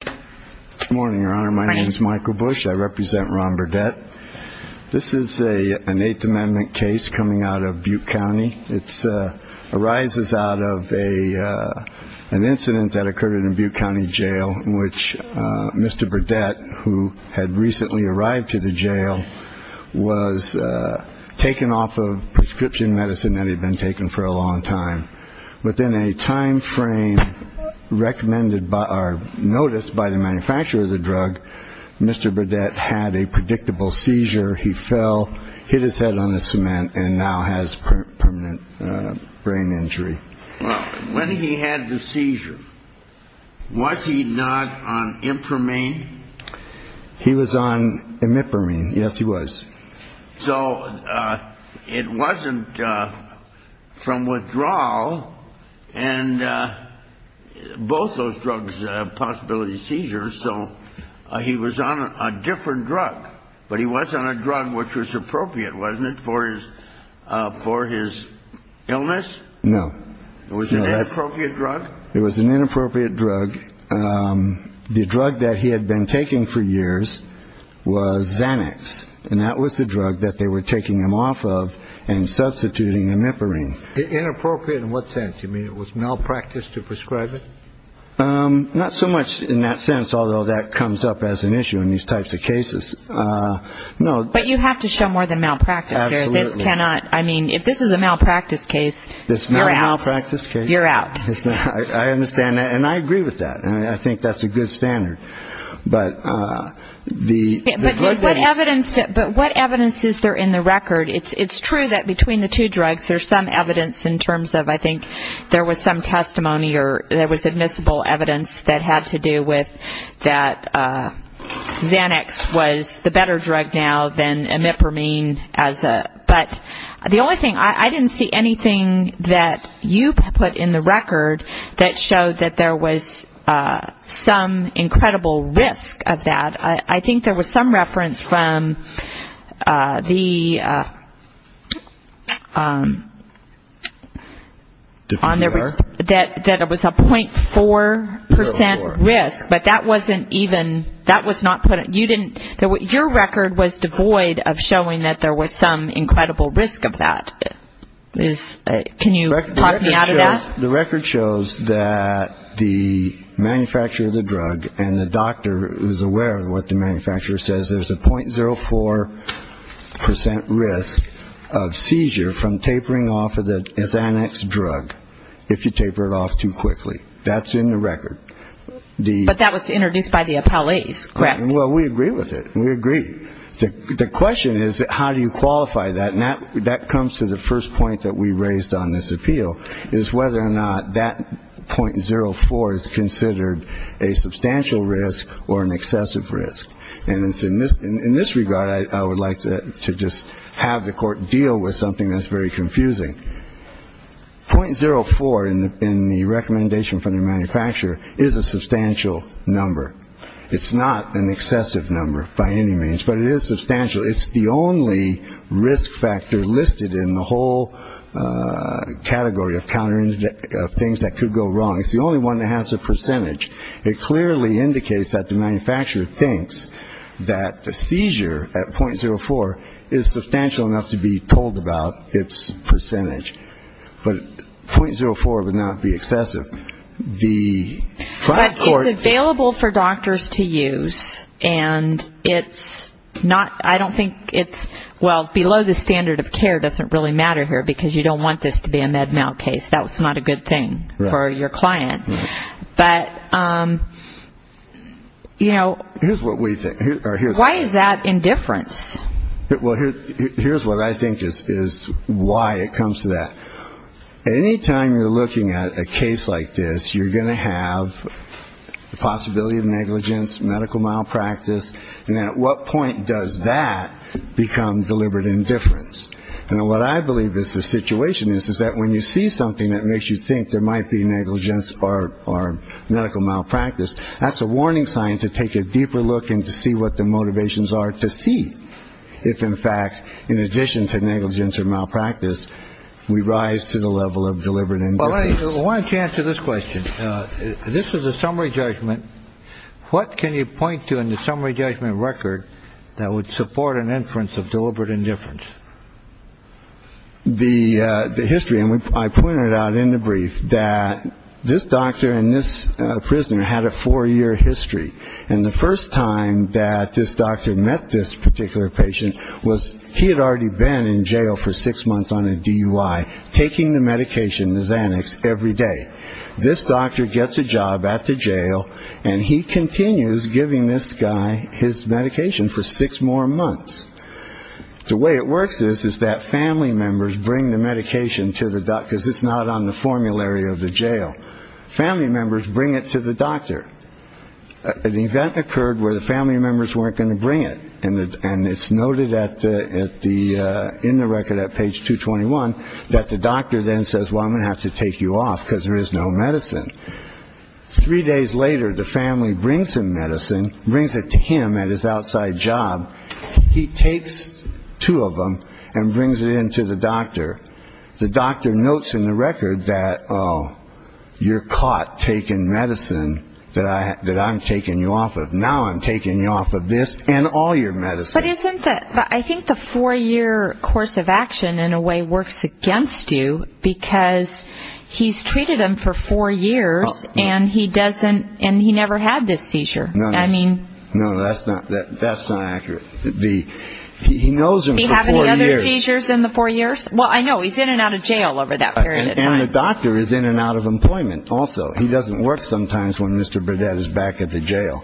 Good morning your honor my name is Michael Bush I represent Ron Burdette this is a an eighth amendment case coming out of Butte County it arises out of a an incident that occurred in Butte County Jail in which Mr. Burdette who had recently arrived to the jail was taken off of prescription medicine that had been taken for a long time within a time frame recommended by our notice by the manufacturer of the drug Mr. Burdette had a predictable seizure he fell hit his head on the cement and now has permanent brain injury when he had the seizure was he not on imprimine he was on imprimine yes he was so it wasn't from withdrawal and both those drugs have possibility seizures so he was on a different drug but he was on a drug which was appropriate wasn't it for his for his illness no it was an inappropriate drug it was an inappropriate drug the drug that he had been taking for years was Xanax and that was the inappropriate in what sense you mean it was malpractice to prescribe it not so much in that sense although that comes up as an issue in these types of cases no but you have to show more than malpractice this cannot I mean if this is a malpractice case it's not a practice case you're out I understand that and I agree with that and I think that's a good standard but what evidence but what evidence is there in the record it's it's true that between the two drugs there's some evidence in terms of I think there was some testimony or there was admissible evidence that had to do with that Xanax was the better drug now than imprimine as a but the only thing I didn't see anything that you put in the record that showed that there was some incredible risk of that I think there was some reference from the on there was that that it was a point four percent risk but that wasn't even that was not put you didn't know what your record was devoid of showing that there was some incredible risk of that is can you the record shows that the manufacturer of the Xanax drug and the doctor is aware of what the manufacturer says there's a point zero four percent risk of seizure from tapering off of the Xanax drug if you taper it off too quickly that's in the record the but that was introduced by the appellees correct well we agree with it we agree the question is how do you qualify that and that that comes to the first point that we raised on this substantial risk or an excessive risk and it's in this in this regard I would like to just have the court deal with something that's very confusing point zero four in the in the recommendation from the manufacturer is a substantial number it's not an excessive number by any means but it is substantial it's the only risk factor listed in the whole category of countering things that could go wrong it's the only one that has a percentage it clearly indicates that the manufacturer thinks that the seizure at point zero four is substantial enough to be told about its percentage but point zero four would not be excessive the court available for doctors to use and it's not I don't think it's well below the standard of care doesn't really matter here because you don't want this to be a med mal case that was not a good thing for your client but you know here's what we think why is that indifference well here's what I think is why it comes to that anytime you're looking at a case like this you're gonna have the possibility of negligence medical malpractice and at what point does that become deliberate indifference and what I believe is the situation is that when you see something that makes you think there might be negligence or or medical malpractice that's a warning sign to take a deeper look and to see what the motivations are to see if in fact in addition to negligence or malpractice we rise to the level of deliberate and why don't you answer this question this is a summary judgment what can you point to in the summary judgment record that would support an inference of deliberate indifference the the history and I pointed out in the brief that this doctor and this prisoner had a four-year history and the first time that this doctor met this particular patient was he had already been in jail for six months on a DUI taking the medication is annexed every day this doctor gets a job at the jail and he continues giving this guy his medication for six more months the way it works is that family members bring the medication to the doctor's it's not on the formulary of the jail family members bring it to the doctor an event occurred where the family members weren't going to bring it and it's noted at the in the record at page 221 that the doctor then says well I'm gonna have to take you off because there is no medicine three days later the family brings him medicine brings it to him at his outside job he takes two of them and brings it into the doctor the doctor notes in the record that you're caught taking medicine that I that I'm taking you off of now I'm taking you off of this and all your medicine but isn't that I think the four-year course of action in a way works against you because he's treated him for four years and he doesn't and he knows in the four years well I know he's in and out of jail over that period and the doctor is in and out of employment also he doesn't work sometimes when mr. Burdett is back at the jail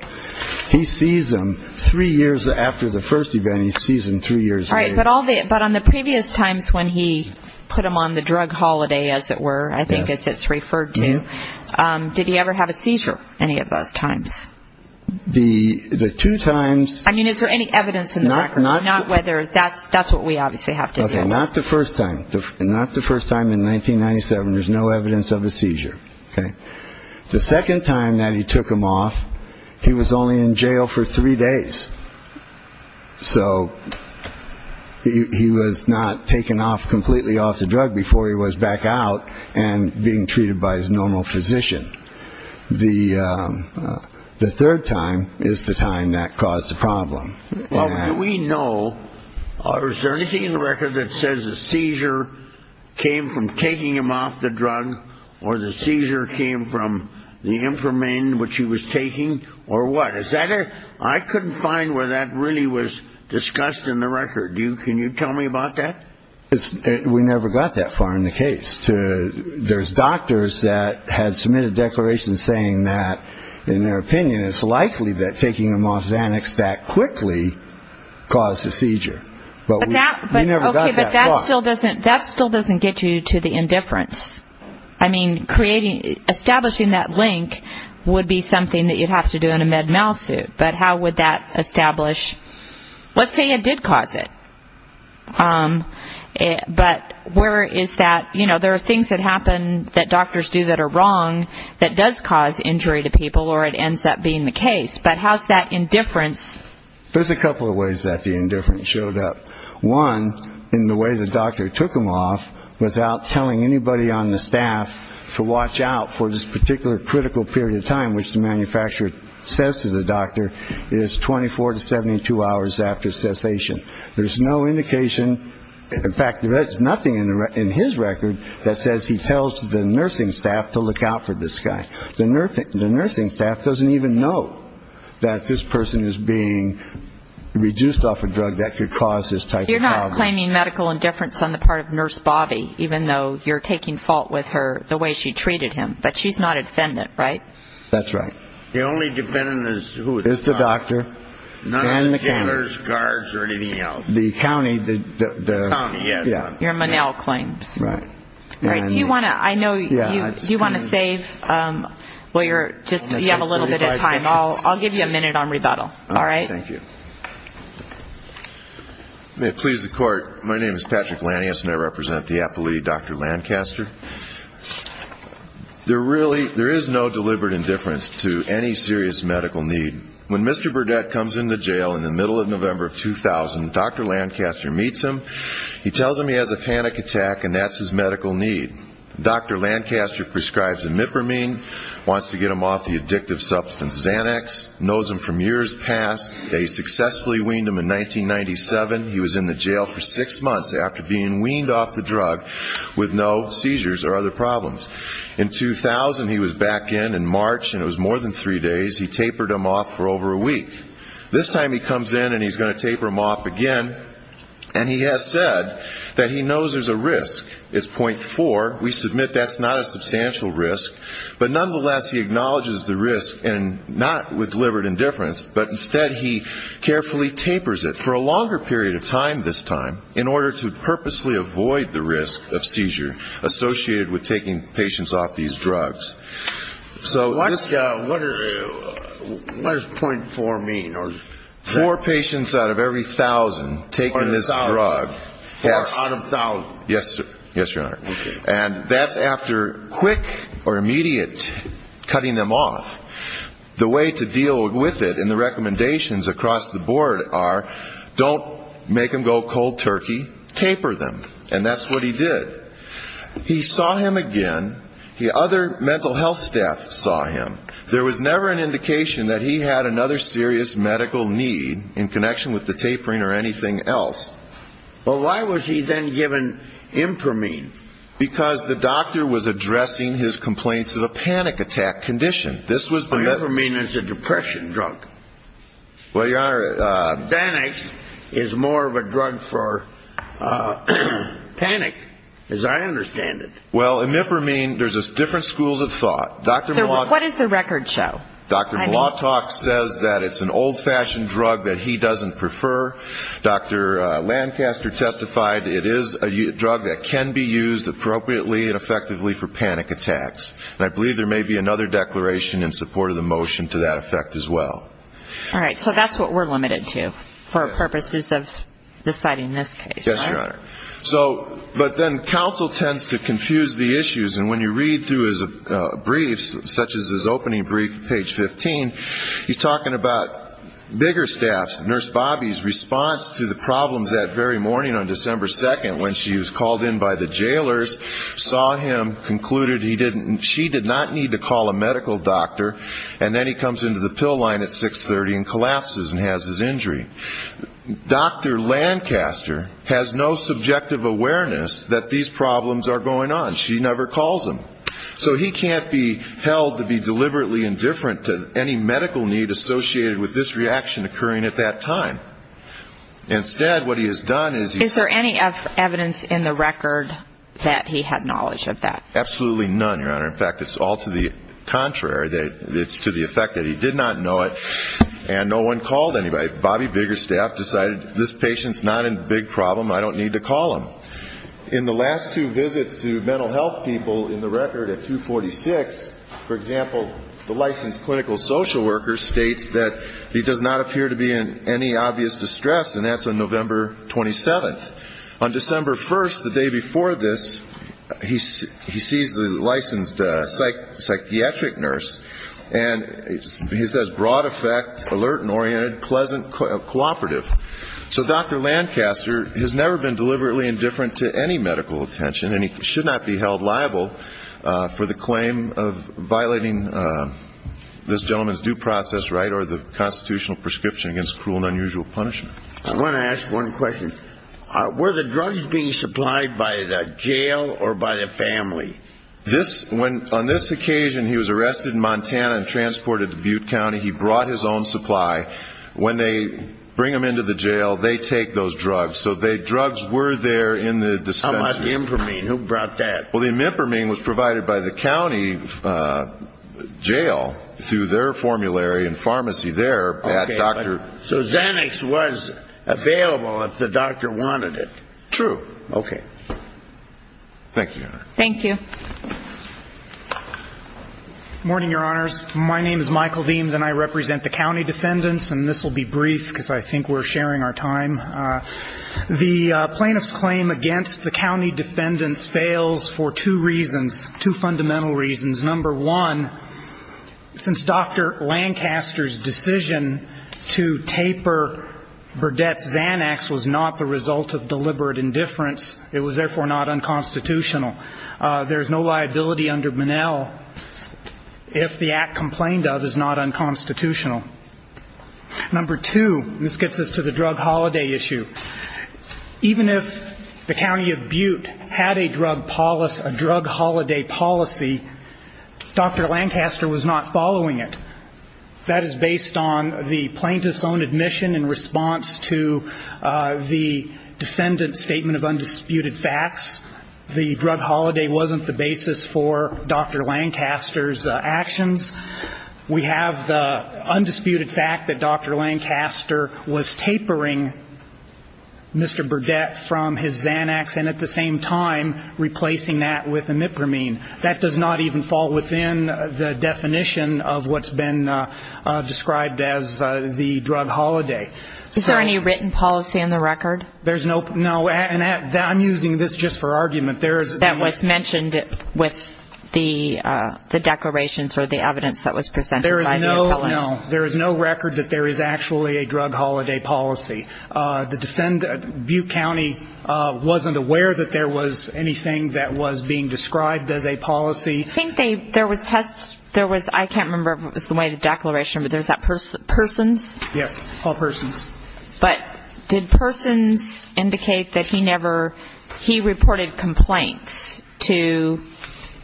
he sees them three years after the first event he sees in three years right but all that but on the previous times when he put him on the drug holiday as it were I think as it's the the two times I mean is there any evidence not not not whether that's that's what we obviously have to do not the first time not the first time in 1997 there's no evidence of a seizure okay the second time that he took him off he was only in jail for three days so he was not taken off completely off the drug before he was back out and being treated by his normal physician the the third time is the time that caused the problem well we know or is there anything in the record that says the seizure came from taking him off the drug or the seizure came from the imprimand which he was taking or what is that it I couldn't find where that really was discussed in the record you can you tell me about that it's we never got that far in the case to there's declaration saying that in their opinion it's likely that taking them off Xanax that quickly caused a seizure but that still doesn't that still doesn't get you to the indifference I mean creating establishing that link would be something that you'd have to do in a med mal suit but how would that establish let's say it did cause it but where is that you know there are things that happen that doctors do that are wrong that does cause injury to people or it ends up being the case but how's that indifference there's a couple of ways that the indifference showed up one in the way the doctor took him off without telling anybody on the staff to watch out for this particular critical period of time which the manufacturer says to the doctor is 24 to 72 hours after cessation there's no indication in fact there's nothing in his record that says he tells the nursing staff to look out for this guy the nursing the nursing staff doesn't even know that this person is being reduced off a drug that could cause this type you're not claiming medical indifference on the part of nurse Bobby even though you're taking fault with her the way she treated him but she's not a defendant right that's right the only defendant is who is the doctor the county claims right do you want to I know you want to save well you're just you have a little bit of time I'll I'll give you a minute on rebuttal all right thank you may it please the court my name is Patrick Lanius and I represent the Apple II dr. Lancaster they're really there is no deliberate indifference to any serious medical need when mr. Burdett comes in the jail in the middle of November of 2000 dr. Lancaster meets him he tells him he has a panic attack and that's his medical need dr. Lancaster prescribes imipramine wants to get him off the addictive substance Xanax knows him from years past a successfully weaned him in 1997 he was in the jail for six months after being weaned off the drug with no seizures or other problems in 2000 he was back in in March and it was more than three days he tapered him off for over a week this time he comes in and he's going to taper him off again and he has said that he knows there's a risk it's point four we submit that's not a substantial risk but nonetheless he acknowledges the risk and not with deliberate indifference but instead he carefully tapers it for a longer period of time this time in order to purposely avoid the risk of seizure associated with taking patients off these drugs so what does point four mean or four patients out of every thousand taking this drug yes yes your honor and that's after quick or immediate cutting them off the way to deal with it and the recommendations across the board are don't make him go cold turkey taper them and that's what he did he saw him again the other mental health staff saw him there was never an indication that he had another serious medical need in connection with the tapering or anything else well why was he then given imprimine because the doctor was addressing his complaints of a panic attack condition this was the letter mean is a depression drug well your banish is more of a drug for panic as I understand it well in nipper mean there's a different schools of thought dr. what is the record show dr. law talk says that it's an old-fashioned drug that he doesn't prefer dr. Lancaster testified it is a drug that can be used appropriately and effectively for panic attacks and I believe there may be another declaration in support of the limited to for purposes of deciding this case yes your honor so but then counsel tends to confuse the issues and when you read through his briefs such as his opening brief page 15 he's talking about bigger staffs nurse Bobby's response to the problems that very morning on December 2nd when she was called in by the jailers saw him concluded he didn't she did not need to call a medical doctor and then he comes into the pill line at 630 and collapses and has his injury dr. Lancaster has no subjective awareness that these problems are going on she never calls him so he can't be held to be deliberately indifferent to any medical need associated with this reaction occurring at that time instead what he has done is is there any evidence in the record that he had knowledge of that absolutely none your honor in fact it's all to the anybody Bobby bigger staff decided this patient's not in big problem I don't need to call him in the last two visits to mental health people in the record at 246 for example the licensed clinical social worker states that he does not appear to be in any obvious distress and that's on November 27th on December 1st the day before this he sees the licensed psych psychiatric nurse and he says broad-effect alert and oriented pleasant cooperative so dr. Lancaster has never been deliberately indifferent to any medical attention and he should not be held liable for the claim of violating this gentleman's due process right or the constitutional prescription against cruel and unusual punishment I want to ask one question where the drugs being supplied by the jail or by the family this when on this occasion he was arrested in Montana and transported to he brought his own supply when they bring him into the jail they take those drugs so they drugs were there in the descent for me who brought that well the impermanent was provided by the county jail through their formulary and pharmacy their bad doctor so Xanax was available if the doctor wanted it true okay thank you thank you morning your honors my name is Michael beams and I represent the county defendants and this will be brief because I think we're sharing our time the plaintiffs claim against the county defendants fails for two reasons two fundamental reasons number one since dr. Lancaster's decision to taper Burdett's Xanax was not the result of deliberate indifference it was therefore not unconstitutional there's no liability under Manel if the act complained of is not unconstitutional number two this gets us to the drug holiday issue even if the county of Butte had a drug policy a drug holiday policy dr. Lancaster was not following it that is based on the plaintiff's own admission in response to the defendant's statement of undisputed facts the drug holiday wasn't the basis for dr. Lancaster's actions we have the undisputed fact that dr. Lancaster was tapering mr. Burdett from his Xanax and at the same time replacing that with a nipper mean that does not even fall within the definition of what's been described as the drug holiday is there any written policy on the record there's no no and that I'm using this just for argument there's that was mentioned it with the the declarations or the evidence that was presented there is no no there is no record that there is actually a drug holiday policy the defendant Butte County wasn't aware that there was anything that was being described as a policy I think they there was tests there was I can't remember if it was the way the declaration but there's that person persons yes all persons but did persons indicate that he never he reported complaints to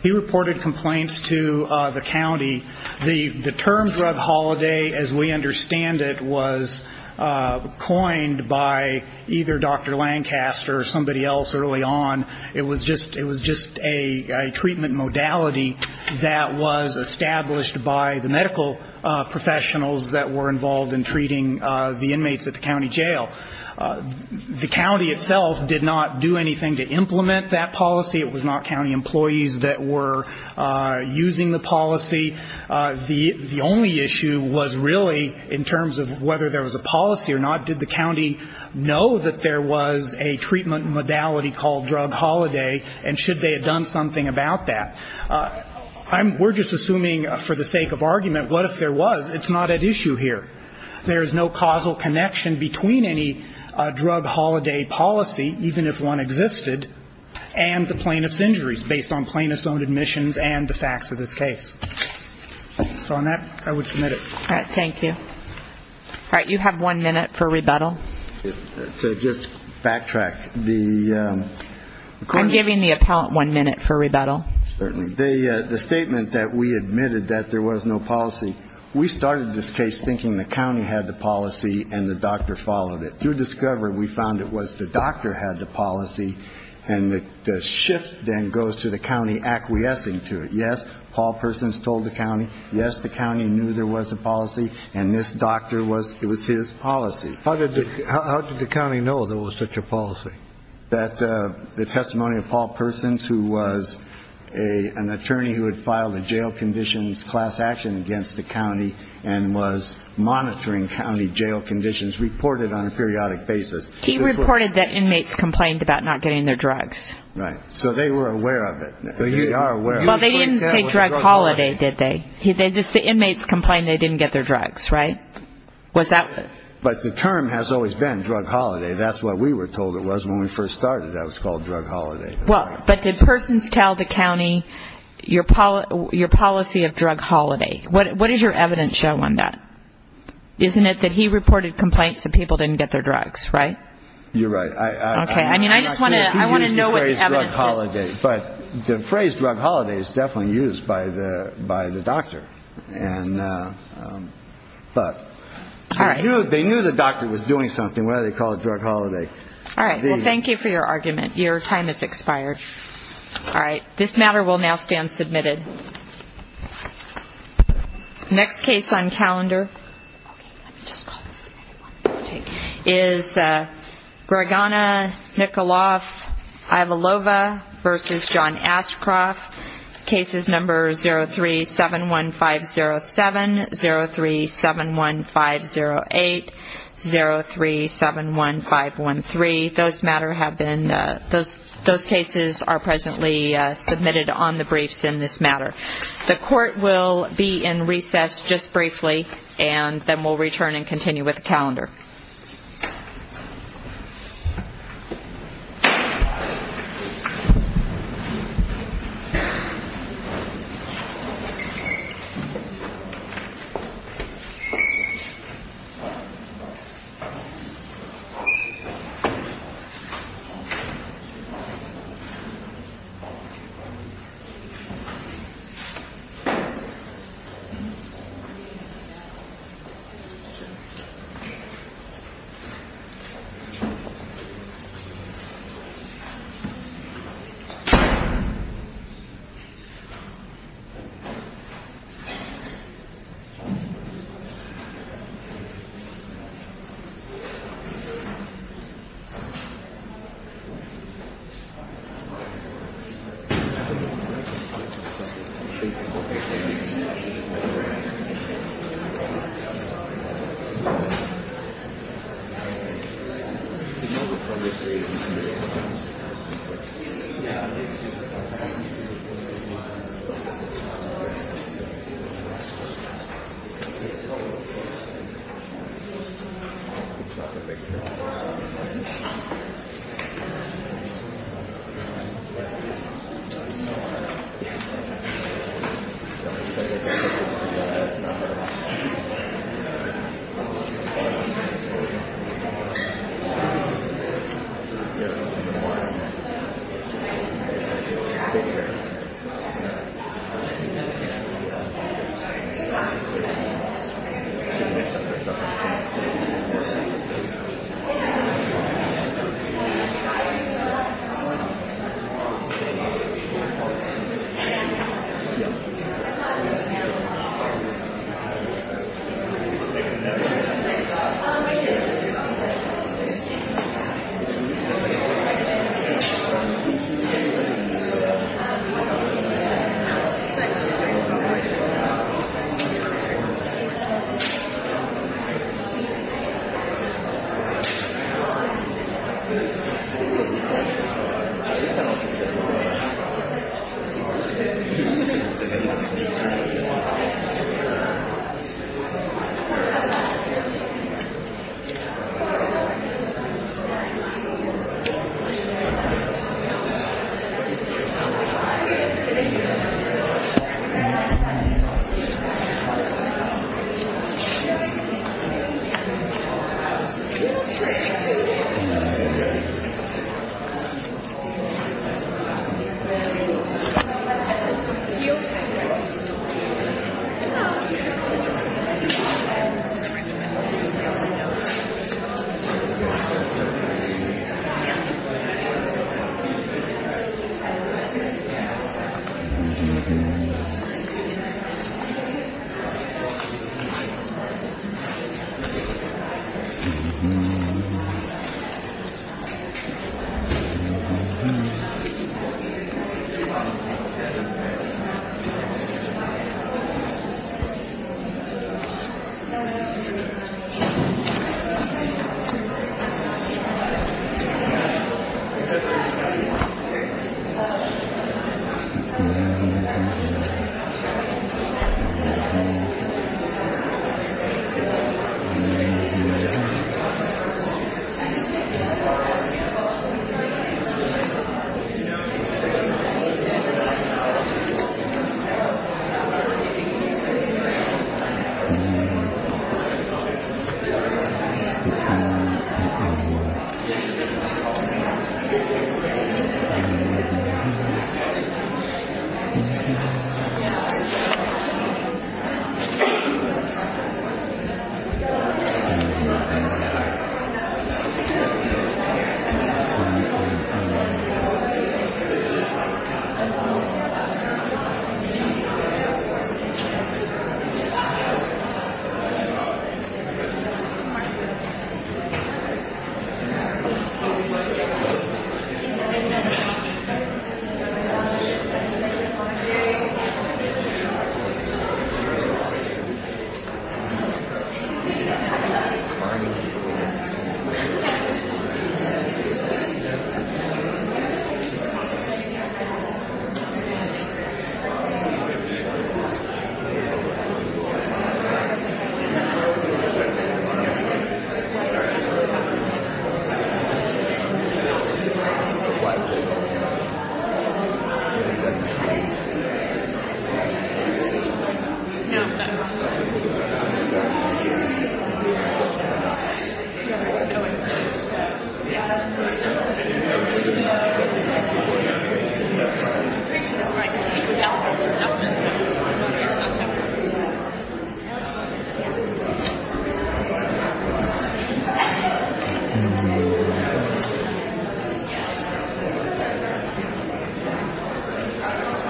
he reported complaints to the county the the term drug holiday as we understand it was coined by either dr. Lancaster or somebody else early on it was just it was a treatment modality that was established by the medical professionals that were involved in treating the inmates at the county jail the county itself did not do anything to implement that policy it was not County employees that were using the policy the the only issue was really in terms of whether there was a policy or not did the county know that there was a treatment modality called drug holiday and should they have done something about that I'm we're just assuming for the sake of argument what if there was it's not at issue here there is no causal connection between any drug holiday policy even if one existed and the plaintiff's injuries based on plaintiff's own admissions and the facts of this case so on that I would submit it thank you all right you have one minute for rebuttal just backtrack the I'm giving the appellant one minute for rebuttal certainly they the statement that we admitted that there was no policy we started this case thinking the county had the policy and the doctor followed it through discovery we found it was the doctor had the policy and the shift then goes to the county acquiescing to it yes all persons told the county yes the county knew there was a policy and this doctor was it was his policy how did the county know there was such a policy that the testimony of Paul persons who was a an attorney who had filed a jail conditions class action against the county and was monitoring county jail conditions reported on a periodic basis he reported that inmates complained about not getting their drugs right so they were aware of it so you are aware well they didn't say drug holiday did they he they just the inmates complained they didn't get their was that but the term has always been drug holiday that's what we were told it was when we first started that was called drug holiday well but did persons tell the county your Paula your policy of drug holiday what is your evidence show on that isn't it that he reported complaints that people didn't get their drugs right you're right okay I mean I just want to I want to know what holiday but the phrase drug holiday is definitely used by the by the doctor and but all right you they knew the doctor was doing something whether they call it drug holiday all right well thank you for your argument your time is expired all right this matter will now stand submitted next case on calendar is Greg on a nickel off I have a lova versus John Ashcroft cases number 0 3 7 1 5 0 7 0 3 7 1 5 0 8 0 3 7 1 5 1 3 those matter have been those those cases are presently submitted on the briefs in this matter the court will be in recess just briefly and then we'll return and continue with the calendar you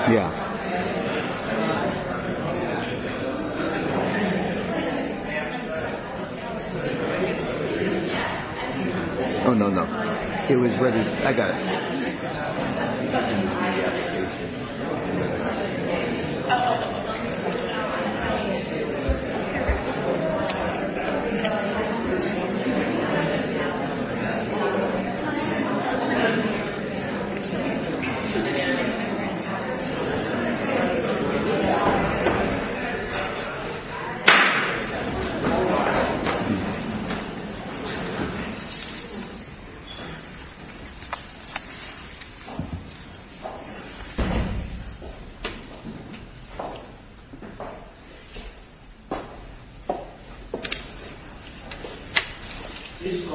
yeah oh no no it was ready I got it Oh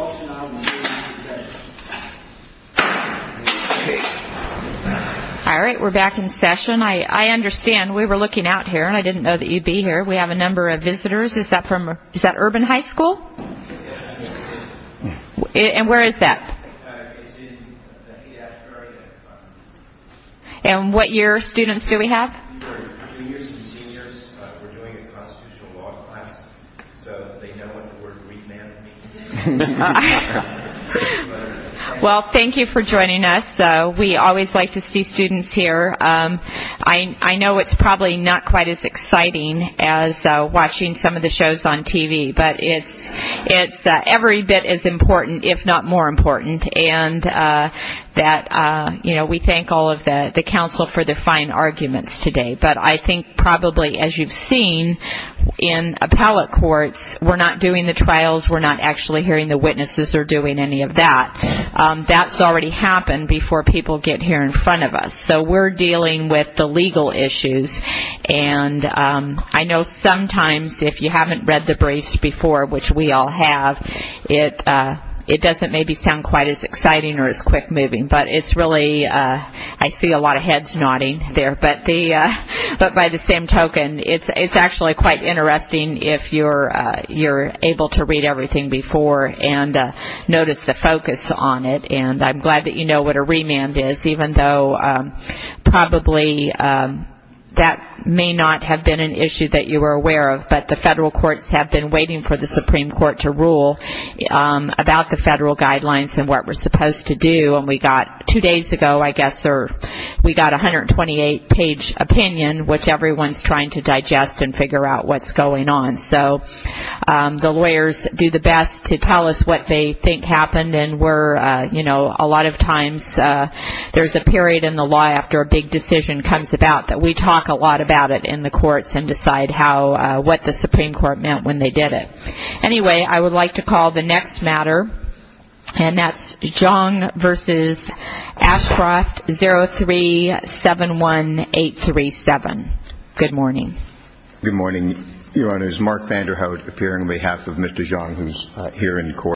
all right we're back in session I I understand we were looking out here and I didn't know that you'd be here we have a number of visitors is that from is and where is that and what year students do we have well thank you for joining us so we always like to see students here I I know it's probably not quite as it's every bit as important if not more important and that you know we thank all of the the council for the fine arguments today but I think probably as you've seen in appellate courts we're not doing the trials we're not actually hearing the witnesses or doing any of that that's already happened before people get here in front of us so we're dealing with the legal issues and I know sometimes if you haven't read the briefs before which we all have it it doesn't maybe sound quite as exciting or as quick-moving but it's really I see a lot of heads nodding there but the but by the same token it's actually quite interesting if you're you're able to read everything before and notice the focus on it and I'm glad that you know what a remand is even though probably that may not have been an issue that you were aware of but the federal courts have been waiting for the Supreme Court to rule about the federal guidelines and what we're supposed to do and we got two days ago I guess or we got 128 page opinion which everyone's trying to digest and figure out what's going on so the lawyers do the best to tell us what they think happened and we're you know a lot of times there's a period in the law after a big decision comes about that we talk a lot about it in the courts and decide how what the Supreme Court meant when they did it anyway I would like to call the next matter and that's John versus Ashcroft 0 3 7 1 8 3 7 good morning good morning your honor is Mark Vanderhout appearing on behalf of mr. John who's here in